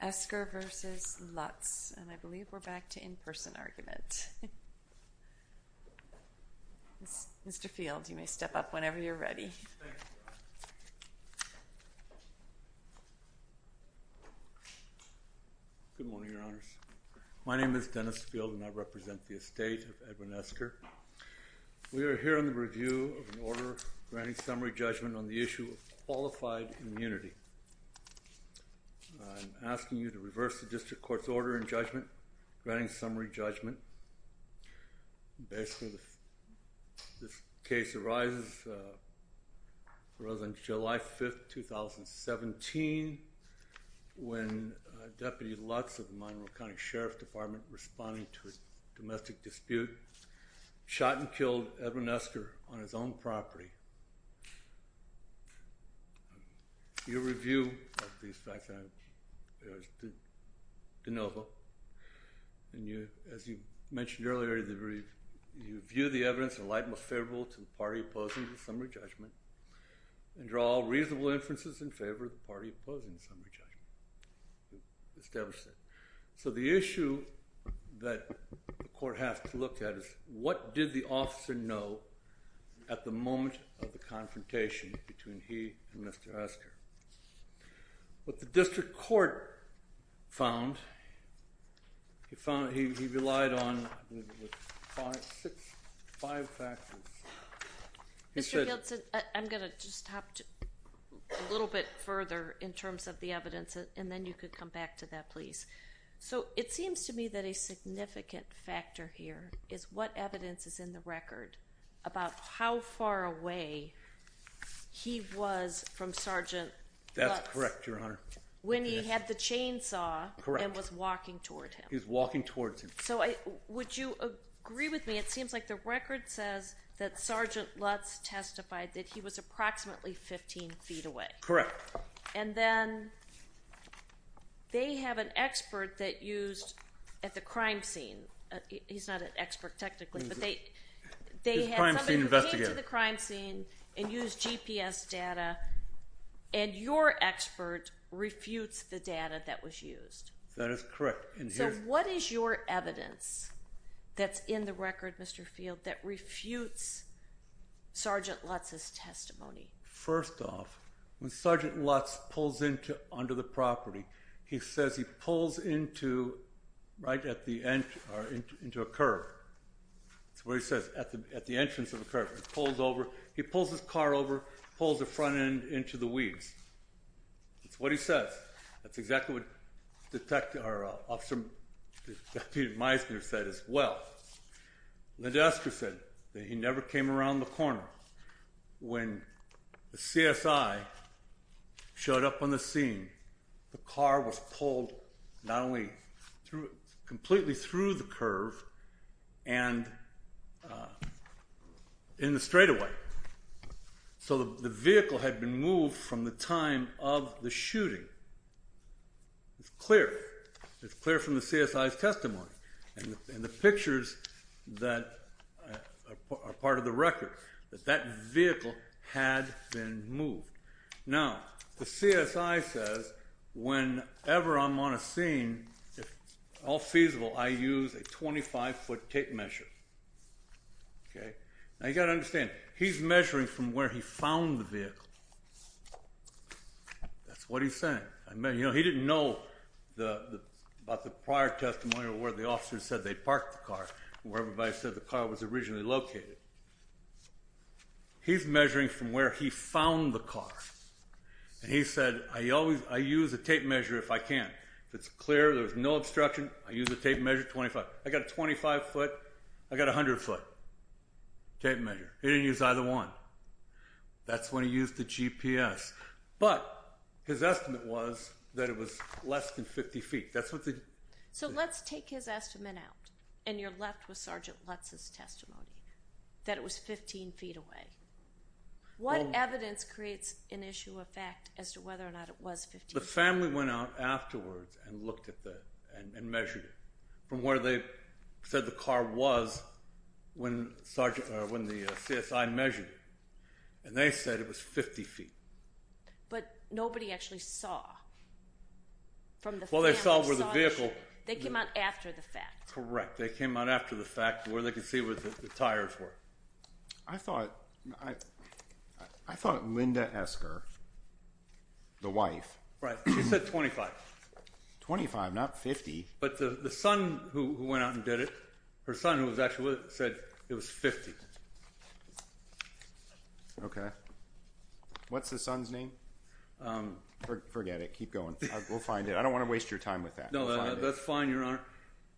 Esker v. Lutz and I believe we're back to in-person argument. Mr. Field you may step up whenever you're ready. Good morning, Your Honors. My name is Dennis Field and I represent the estate of Edwin Esker. We are here on the review of an order granting summary judgment on the issue of qualified immunity. I'm asking you to reverse the district court's order in judgment, granting summary judgment. Basically this case arises on July 5th, 2017 when Deputy Lutz of Monroe County Sheriff's Department responding to a domestic dispute shot and killed Edwin Esker on his own property. Your review of these facts, as you mentioned earlier, you view the evidence in light most favorable to the party opposing the summary judgment and draw reasonable inferences in favor of the party opposing the summary judgment. So the issue that the court has to look at is what did the officer know at the moment of the confrontation between he and Mr. Esker. What the district court found, he relied on five factors. Mr. Field, I'm gonna just talk a little bit further in terms of the evidence and then you could come back to that please. So it seems to me that a significant factor here is what evidence is in the record about how far away he was from Sergeant Lutz when he had the chainsaw and was walking towards him. So would you agree with me, it seems like the record says that Sergeant Lutz testified that he was approximately 15 feet away. Correct. And then they have an expert that used at the crime scene, he's not an expert technically, but they had someone who came to the crime scene and used GPS data and your expert refutes the data that was used. That is correct. So what is your evidence that's in the record, Mr. Field, that refutes Sergeant Lutz's testimony? First off, when Sergeant Lutz pulls into under the property, he says he pulls into right at the end or into a curb. That's what he says, at the entrance of the curb. He pulls over, he pulls his car over, pulls the front end into the weeds. That's what he says. That's exactly what Detective Meisner said as well. Linda Esker said that he never came around the corner. When the CSI showed up on the scene, the car was pulled not only through, completely through the curve and in the straightaway. So the vehicle had been moved from the time of the that are part of the record, that that vehicle had been moved. Now, the CSI says whenever I'm on a scene, if all feasible, I use a 25-foot tape measure. Okay, now you got to understand, he's measuring from where he found the vehicle. That's what he's saying. I mean, you know, he didn't know about the prior testimony or where the officers said they parked the car, where everybody said the car was originally located. He's measuring from where he found the car. And he said, I always, I use a tape measure if I can. If it's clear, there's no obstruction, I use a tape measure, 25. I got a 25 foot, I got a hundred foot tape measure. He didn't use either one. That's when he used the GPS. But his estimate was that it was less than 50 feet. So let's take his estimate out and you're left with Sergeant Lutz's testimony, that it was 15 feet away. What evidence creates an issue of fact as to whether or not it was 15 feet? The family went out afterwards and looked at that and measured it from where they said the car was when the CSI measured. And they said it was 50 feet. But nobody actually saw from the... Well, they saw where the vehicle... They came out after the fact. Correct. They came out after the fact where they could see what the tires were. I thought, I thought Linda Esker, the wife... Right, she said 25. 25, not 50. But the son who went out and did her son who was actually said it was 50. Okay. What's the son's name? Forget it. Keep going. We'll find it. I don't want to waste your time with that. No, that's fine, Your Honor.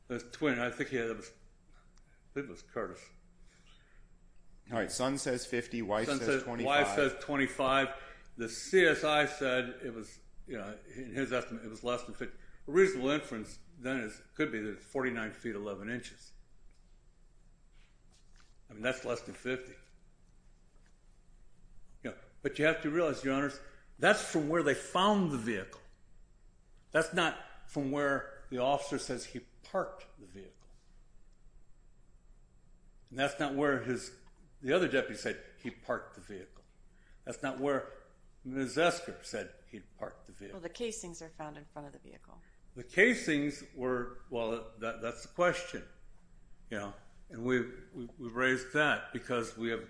That's twin. I think it was Curtis. All right, son says 50, wife says 25. The CSI said it was, you know, in his estimate it was less than 50. A reasonable inference then is it could be that it's 49 feet 11 inches. I mean, that's less than 50. Yeah, but you have to realize, Your Honor, that's from where they found the vehicle. That's not from where the officer says he parked the vehicle. That's not where his... The other deputy said he parked the vehicle. That's not where Ms. Esker said he parked the vehicle. Well, the casings are found in front of the vehicle. The casings were... Well, that's the question, you know, and we raised that because we have...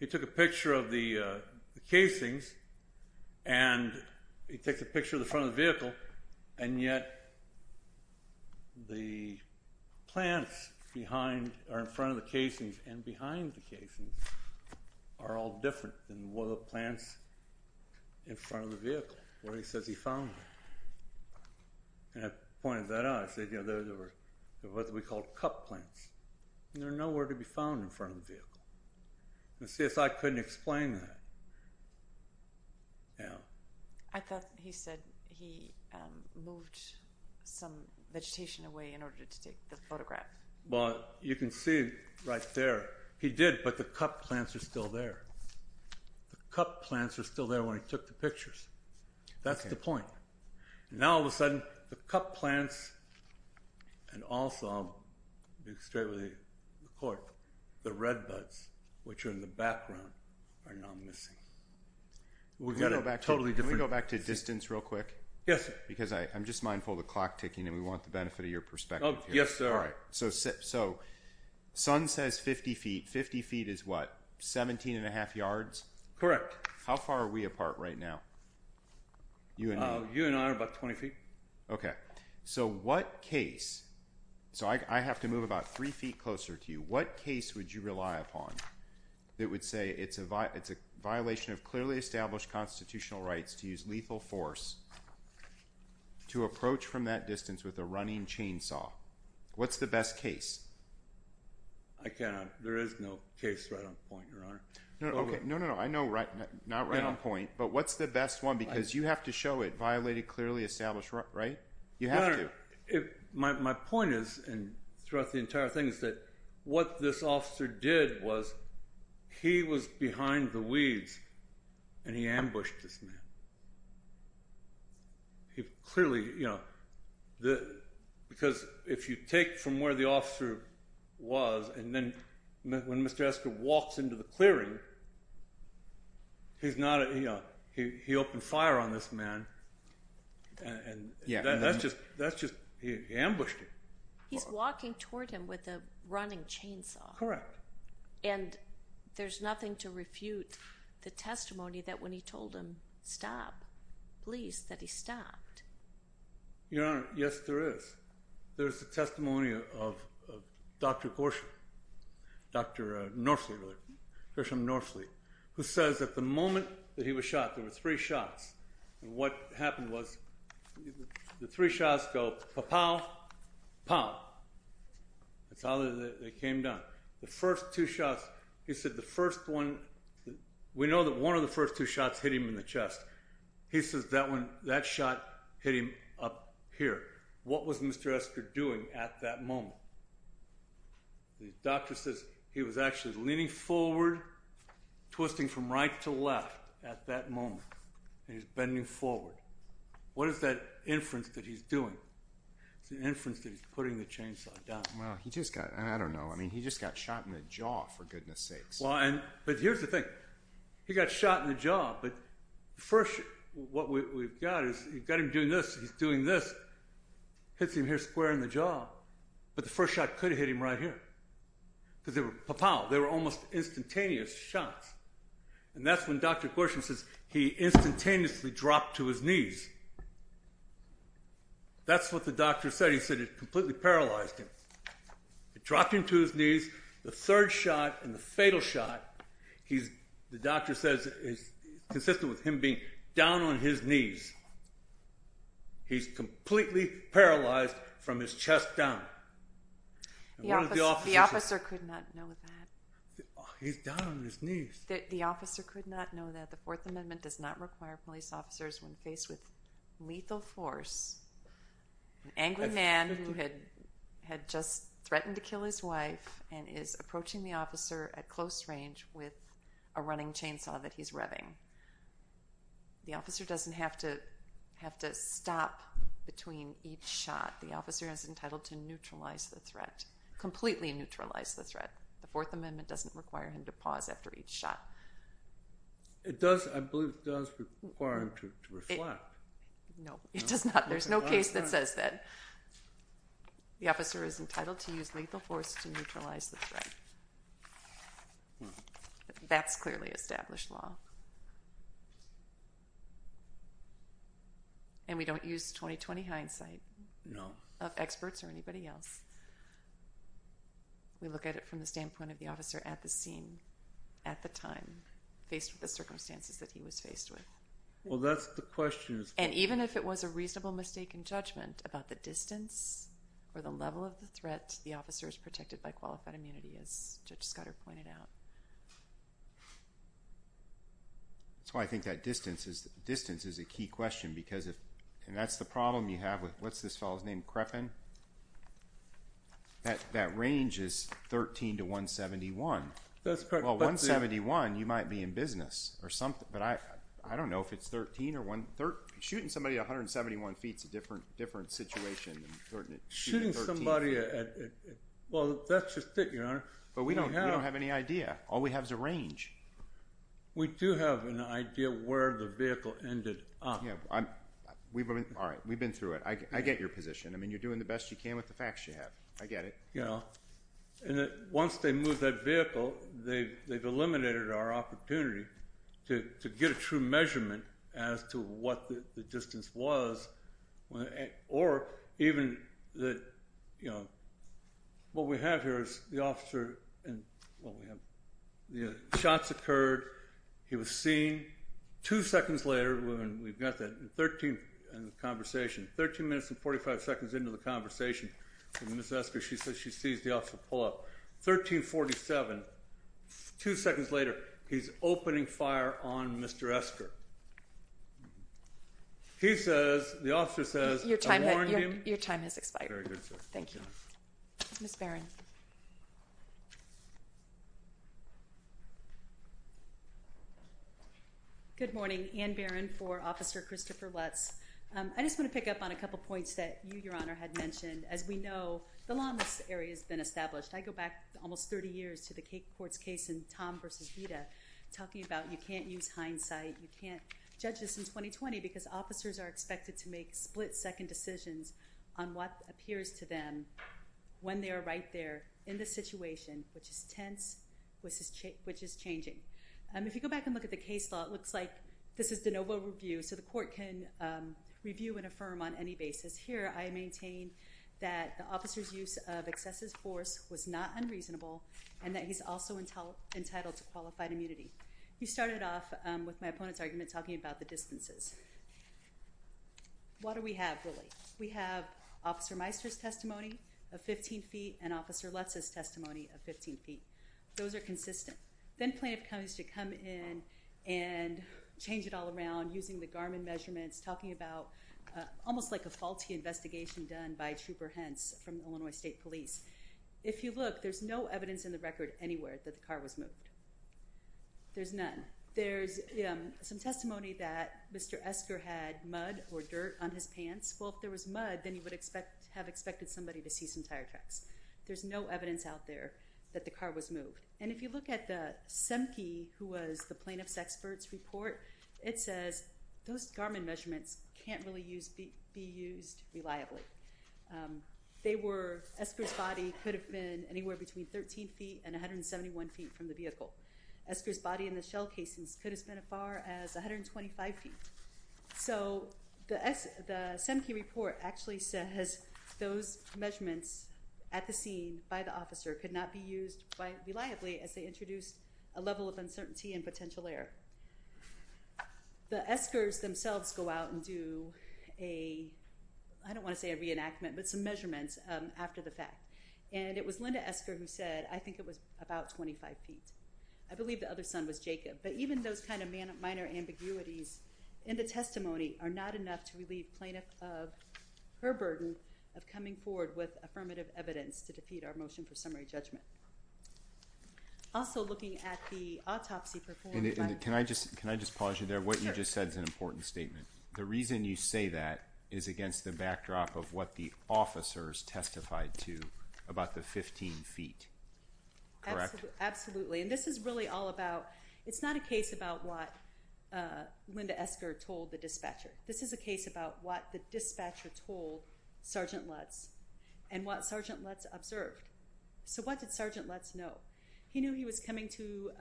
He took a picture of the casings and he takes a picture of the front of the vehicle and yet the plants behind are in front of the casings and behind the casings are all different than what the plants in front of the and I pointed that out. I said, you know, those are what we call cup plants and they're nowhere to be found in front of the vehicle. The CSI couldn't explain that. Yeah. I thought he said he moved some vegetation away in order to take the photograph. Well, you can see right there. He did, but the cup plants are still there. The cup plants are still there when he took the pictures. That's the point. Now, all of a sudden, the cup plants and also, I'll be straight with the court, the red buds, which are in the background, are now missing. Can we go back to distance real quick? Yes, sir. Because I'm just mindful the clock ticking and we want the benefit of your perspective. Oh, yes, sir. All right. So, son says 50 feet. 50 feet is what? 17 and a half yards? Correct. How far are we apart right now? You and I are about 20 feet. Okay. So, what case, so I have to move about three feet closer to you, what case would you rely upon that would say it's a violation of clearly established constitutional rights to use lethal force to approach from that distance with a running chainsaw? What's the best case? I cannot. There is no case right on point, Your Honor. Okay. No, no, no. I know not right on point, but what's the best one? Because you have to show it, violated clearly established, right? You have to. My point is, and throughout the entire thing, is that what this officer did was he was behind the weeds and he ambushed this man. He clearly, you know, because if you take from where the he's not, you know, he opened fire on this man and that's just, that's just, he ambushed him. He's walking toward him with a running chainsaw. Correct. And there's nothing to refute the testimony that when he told him stop, please, that he stopped. Your Honor, yes, there is. There's a testimony of Dr. Gorsuch, Dr. Norfleet, who says at the moment that he was shot, there were three shots, and what happened was the three shots go, pa-pow, pow. That's how they came down. The first two shots, he said the first one, we know that one of the first two shots hit him in the chest. He says that one, that shot hit him up here. What was Mr. Esker doing at that twisting from right to left at that moment? He's bending forward. What is that inference that he's doing? It's an inference that he's putting the chainsaw down. Well, he just got, I don't know, I mean, he just got shot in the jaw, for goodness sakes. Well, and, but here's the thing. He got shot in the jaw, but the first, what we've got is, you've got him doing this, he's doing this, hits him here square in the jaw, but the first shot could have hit him right here, because they were, pa-pow, they were almost instantaneous shots, and that's when Dr. Gorsham says he instantaneously dropped to his knees. That's what the doctor said. He said it completely paralyzed him. It dropped him to his knees. The third shot and the fatal shot, he's, the doctor says is consistent with him being down on his knees. He's completely paralyzed from his chest down. The officer could not know that. He's down on his knees. The officer could not know that. The Fourth Amendment does not require police officers when faced with lethal force. An angry man who had had just threatened to kill his wife and is approaching the officer at close range with a running shot. The officer is entitled to neutralize the threat, completely neutralize the threat. The Fourth Amendment doesn't require him to pause after each shot. It does, I believe it does require him to reflect. No, it does not. There's no case that says that. The officer is entitled to use lethal force to neutralize the threat. That's clearly established law. And we don't use 20-20 hindsight of experts or anybody else. We look at it from the standpoint of the officer at the scene, at the time, faced with the circumstances that he was faced with. Well, that's the question. And even if it was a reasonable mistake in judgment about the distance or the level of the threat, the officer is protected by qualified immunity, as Judge Scudder pointed out. That's why I think that distance is a key question, because if, and that's the problem you have with, what's this fellow's name, Creppen? That range is 13 to 171. Well, 171, you might be in business or something, but I don't know if it's 13 or 1, shooting somebody at 171 feet is a different situation. Shooting somebody at, well, that's just it, Your Honor. But we don't have any idea. All we have is a range. We do have an idea where the vehicle ended up. Yeah, we've been, all right, we've been through it. I get your position. I mean, you're doing the best you can with the facts you have. I get it. You know, and once they move that vehicle, they've eliminated our opportunity to get a true measurement as to what the distance was, or even that, you know, what we have here is the officer and, well, we have the shots occurred. He was seen. Two seconds later, when we've got that, 13, in the conversation, 13 minutes and 45 seconds into the conversation with Ms. Esker, she says she sees the officer pull up. 1347, two seconds later, he's opening fire on Mr. Esker. He says, the officer says, I warned him. Your time has expired. Thank you. Ms. Barron. Good morning. Ann Barron for Officer Christopher Lutz. I just want to pick up on a couple points that you, Your Honor, had mentioned. As we know, the law in this area has been established. I go back almost 30 years to the Cate Courts case in Tom versus Vida, talking about you can't use hindsight. You can't judge this in 2020 because officers are expected to make split-second decisions on what appears to them when they are right there in the situation, which is tense, which is changing. If you go back and look at the case law, it looks like this is de novo review, so the court can review and affirm on any basis. Here, I maintain that the officer's use of excessive force was not unreasonable and that he's also entitled to qualified immunity. You started off with my opponent's argument talking about the distances. What do we have, really? We have Officer Meister's testimony of 15 feet and Officer Lutz's testimony of 15 feet. Those are consistent. Then plaintiff comes to come in and change it all around using the Garmin measurements, talking about almost like a faulty investigation done by Trooper Hentz from Illinois State Police. If you look, there's no evidence in the record anywhere that the car was moved. There's none. There's some testimony that Mr. Esker had mud or dirt on his pants. Well, if there was mud, then you would have expected somebody to see some tracks. There's no evidence out there that the car was moved. And if you look at the SEMKE, who was the plaintiff's expert's report, it says those Garmin measurements can't really be used reliably. They were, Esker's body could have been anywhere between 13 feet and 171 feet from the vehicle. Esker's body in the shell casings could have been as far as 125 feet. So the SEMKE report actually says those measurements at the scene by the officer could not be used reliably as they introduced a level of uncertainty and potential error. The Eskers themselves go out and do a, I don't want to say a reenactment, but some measurements after the fact. And it was Linda Esker who said I think it was about 25 feet. I believe the other son was Jacob. But even those kind of minor ambiguities in the testimony are not enough to relieve the plaintiff of her burden of coming forward with affirmative evidence to defeat our motion for summary judgment. Also looking at the autopsy performed... And can I just pause you there? What you just said is an important statement. The reason you say that is against the backdrop of what the officers testified to about the 15 feet. Absolutely. And this is really all about, it's not a case about what Linda Esker told the dispatcher. This is a case about what the dispatcher told Sergeant Lutz and what Sergeant Lutz observed. So what did Sergeant Lutz know? He knew he was coming to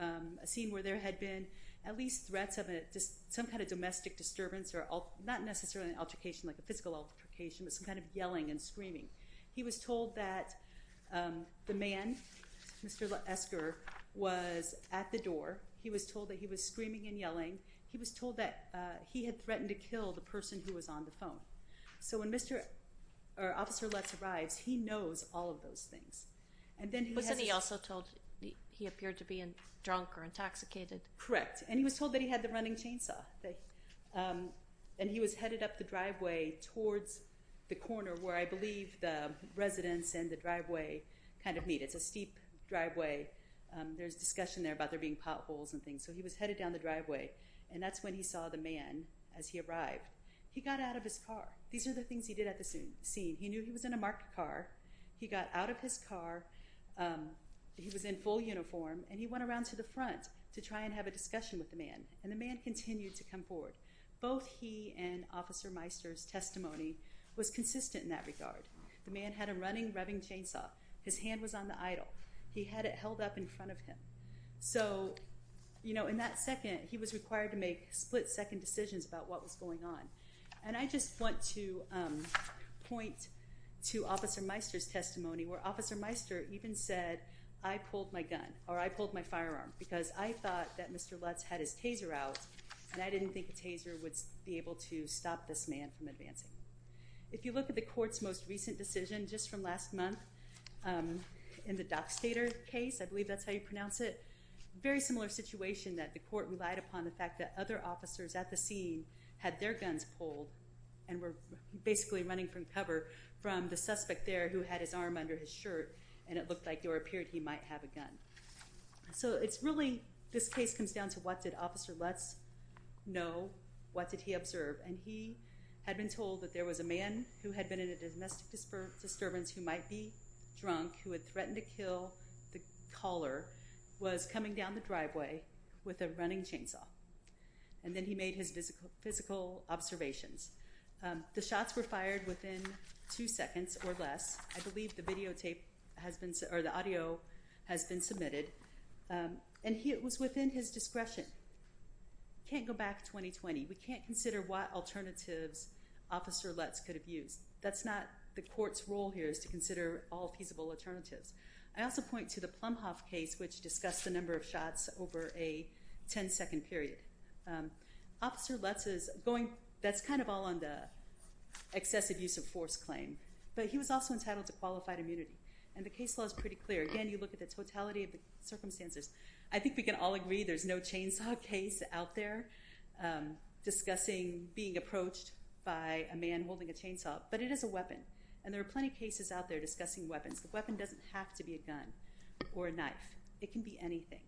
a scene where there had been at least threats of some kind of domestic disturbance or not necessarily an altercation, like a physical altercation, but some kind of yelling and screaming. He was told that the man, Mr. Esker, was at the door. He was told that he was screaming and yelling. He was told that he had threatened to shoot him if he was on the phone. So when Mr. or Officer Lutz arrives, he knows all of those things. And then he also told he appeared to be in drunk or intoxicated. Correct. And he was told that he had the running chainsaw. And he was headed up the driveway towards the corner where I believe the residents and the driveway kind of meet. It's a steep driveway. There's discussion there about there being potholes and things. So he was headed down the driveway and that's when he saw the man as he arrived. He got out of his car. These are the things he did at the scene. He knew he was in a marked car. He got out of his car. He was in full uniform and he went around to the front to try and have a discussion with the man. And the man continued to come forward. Both he and Officer Meister's testimony was consistent in that regard. The man had a running, rubbing chainsaw. His hand was on the idle. He had it held up in front of him. So, you know, in that split-second decisions about what was going on. And I just want to point to Officer Meister's testimony where Officer Meister even said, I pulled my gun or I pulled my firearm because I thought that Mr. Lutz had his taser out and I didn't think a taser would be able to stop this man from advancing. If you look at the court's most recent decision just from last month in the Dockstader case, I believe that's how you pronounce it, very similar situation that the court officers at the scene had their guns pulled and were basically running from cover from the suspect there who had his arm under his shirt and it looked like there appeared he might have a gun. So it's really, this case comes down to what did Officer Lutz know? What did he observe? And he had been told that there was a man who had been in a domestic disturbance who might be drunk, who had threatened to kill the caller, was coming down the driveway with a running chainsaw, and then he made his physical observations. The shots were fired within two seconds or less. I believe the videotape has been, or the audio, has been submitted and it was within his discretion. Can't go back to 2020. We can't consider what alternatives Officer Lutz could have used. That's not the court's role here is to consider all feasible alternatives. I also point to the Plumhoff case which discussed the number of shots over a 10-second period. Officer Lutz is going, that's kind of all on the excessive use of force claim, but he was also entitled to qualified immunity and the case law is pretty clear. Again, you look at the totality of the circumstances. I think we can all agree there's no chainsaw case out there discussing being approached by a man holding a chainsaw, but it is a weapon and there are plenty of cases out there where it's a weapon or a knife. It can be anything.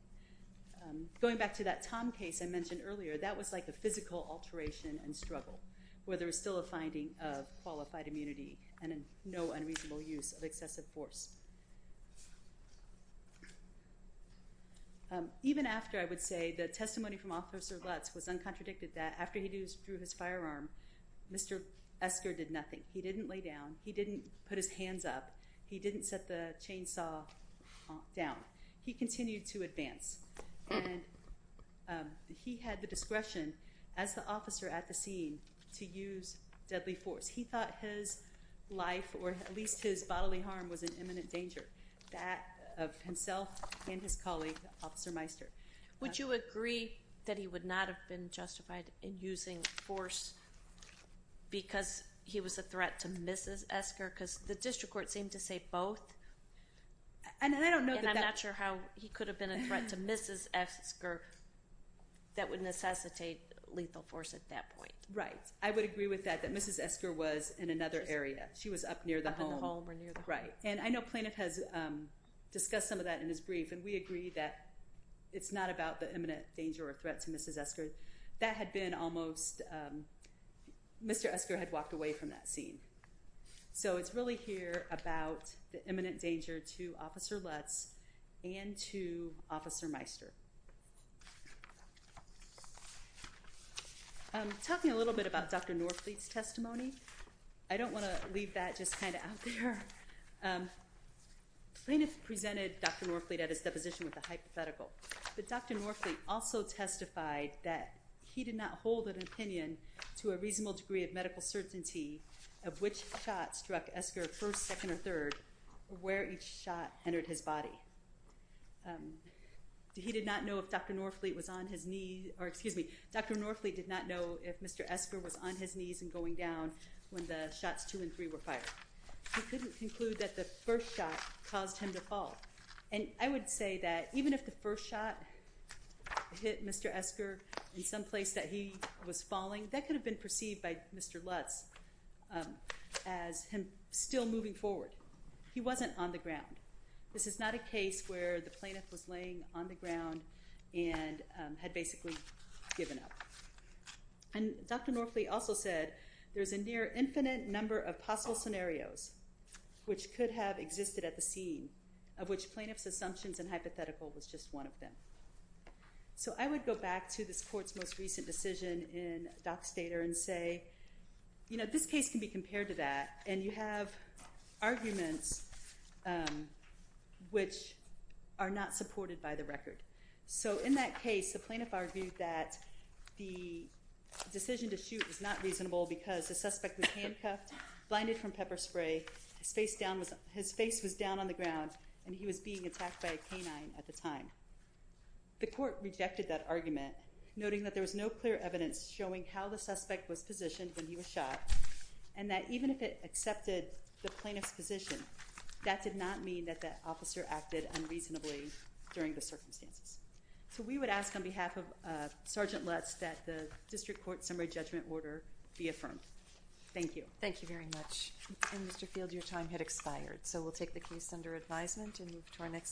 Going back to that Tom case I mentioned earlier, that was like a physical alteration and struggle where there is still a finding of qualified immunity and no unreasonable use of excessive force. Even after, I would say, the testimony from Officer Lutz was uncontradicted that after he drew his firearm, Mr. Esker did nothing. He didn't lay down. He didn't put his hands up. He didn't set the chainsaw down. He continued to advance and he had the discretion as the officer at the scene to use deadly force. He thought his life or at least his bodily harm was an imminent danger. That of himself and his colleague, Officer Meister. Would you agree that he would not have been justified in using force because he was a threat to Mrs. Esker? Because the district court seemed to say both and I don't know. I'm not sure how he could have been a threat to Mrs. Esker that would necessitate lethal force at that point. Right. I would agree with that, that Mrs. Esker was in another area. She was up near the home. Right. And I know plaintiff has discussed some of that in his brief and we agree that it's not about the imminent danger or threat to Mrs. Esker. That had been almost, Mr. Esker had walked away from that scene. So it's really here about the imminent danger to Officer Lutz and to Officer Meister. Talking a little bit about Dr. Norfleet's testimony. I don't want to leave that just kind of out there. Plaintiff presented Dr. Norfleet at his deposition with a hypothetical. But Dr. Norfleet also testified that he did not hold an opinion to a reasonable degree of medical certainty of which shot struck Esker first, second, or third, where each shot entered his body. He did not know if Dr. Norfleet was on his knees, or excuse me, Dr. Norfleet did not know if Mr. Esker was on his knees and going down when the shots two and three were fired. He couldn't conclude that the first shot caused him to fall. And I would say that even if the first shot hit Mr. Esker in some place that he was falling, that could have been perceived by Mr. Lutz as him still moving forward. He wasn't on the ground. This is not a case where the plaintiff was laying on the ground and had basically given up. And Dr. Norfleet also said there's a near infinite number of possible scenarios which could have existed at the scene of which plaintiff's assumptions and hypothetical was just one of them. So I would go back to this court's most recent decision in Dockstader and say, you know, this case can be compared to that, and you have arguments which are not supported by the record. So in that case, the plaintiff argued that the decision to shoot was not reasonable because the suspect was handcuffed, blinded from pepper spray, his face was down on the ground, and he was being attacked by a canine at the time. The court rejected that argument, noting that there was no clear evidence showing how the suspect was positioned when he was shot, and that even if it accepted the plaintiff's position, that did not mean that that officer acted unreasonably during the circumstances. So we would ask on behalf of Sergeant Lutz that the District Court summary judgment order be affirmed. Thank you. Thank you very much. And Mr. Field, your time had expired, so we'll take the case under advisement and move to our next case.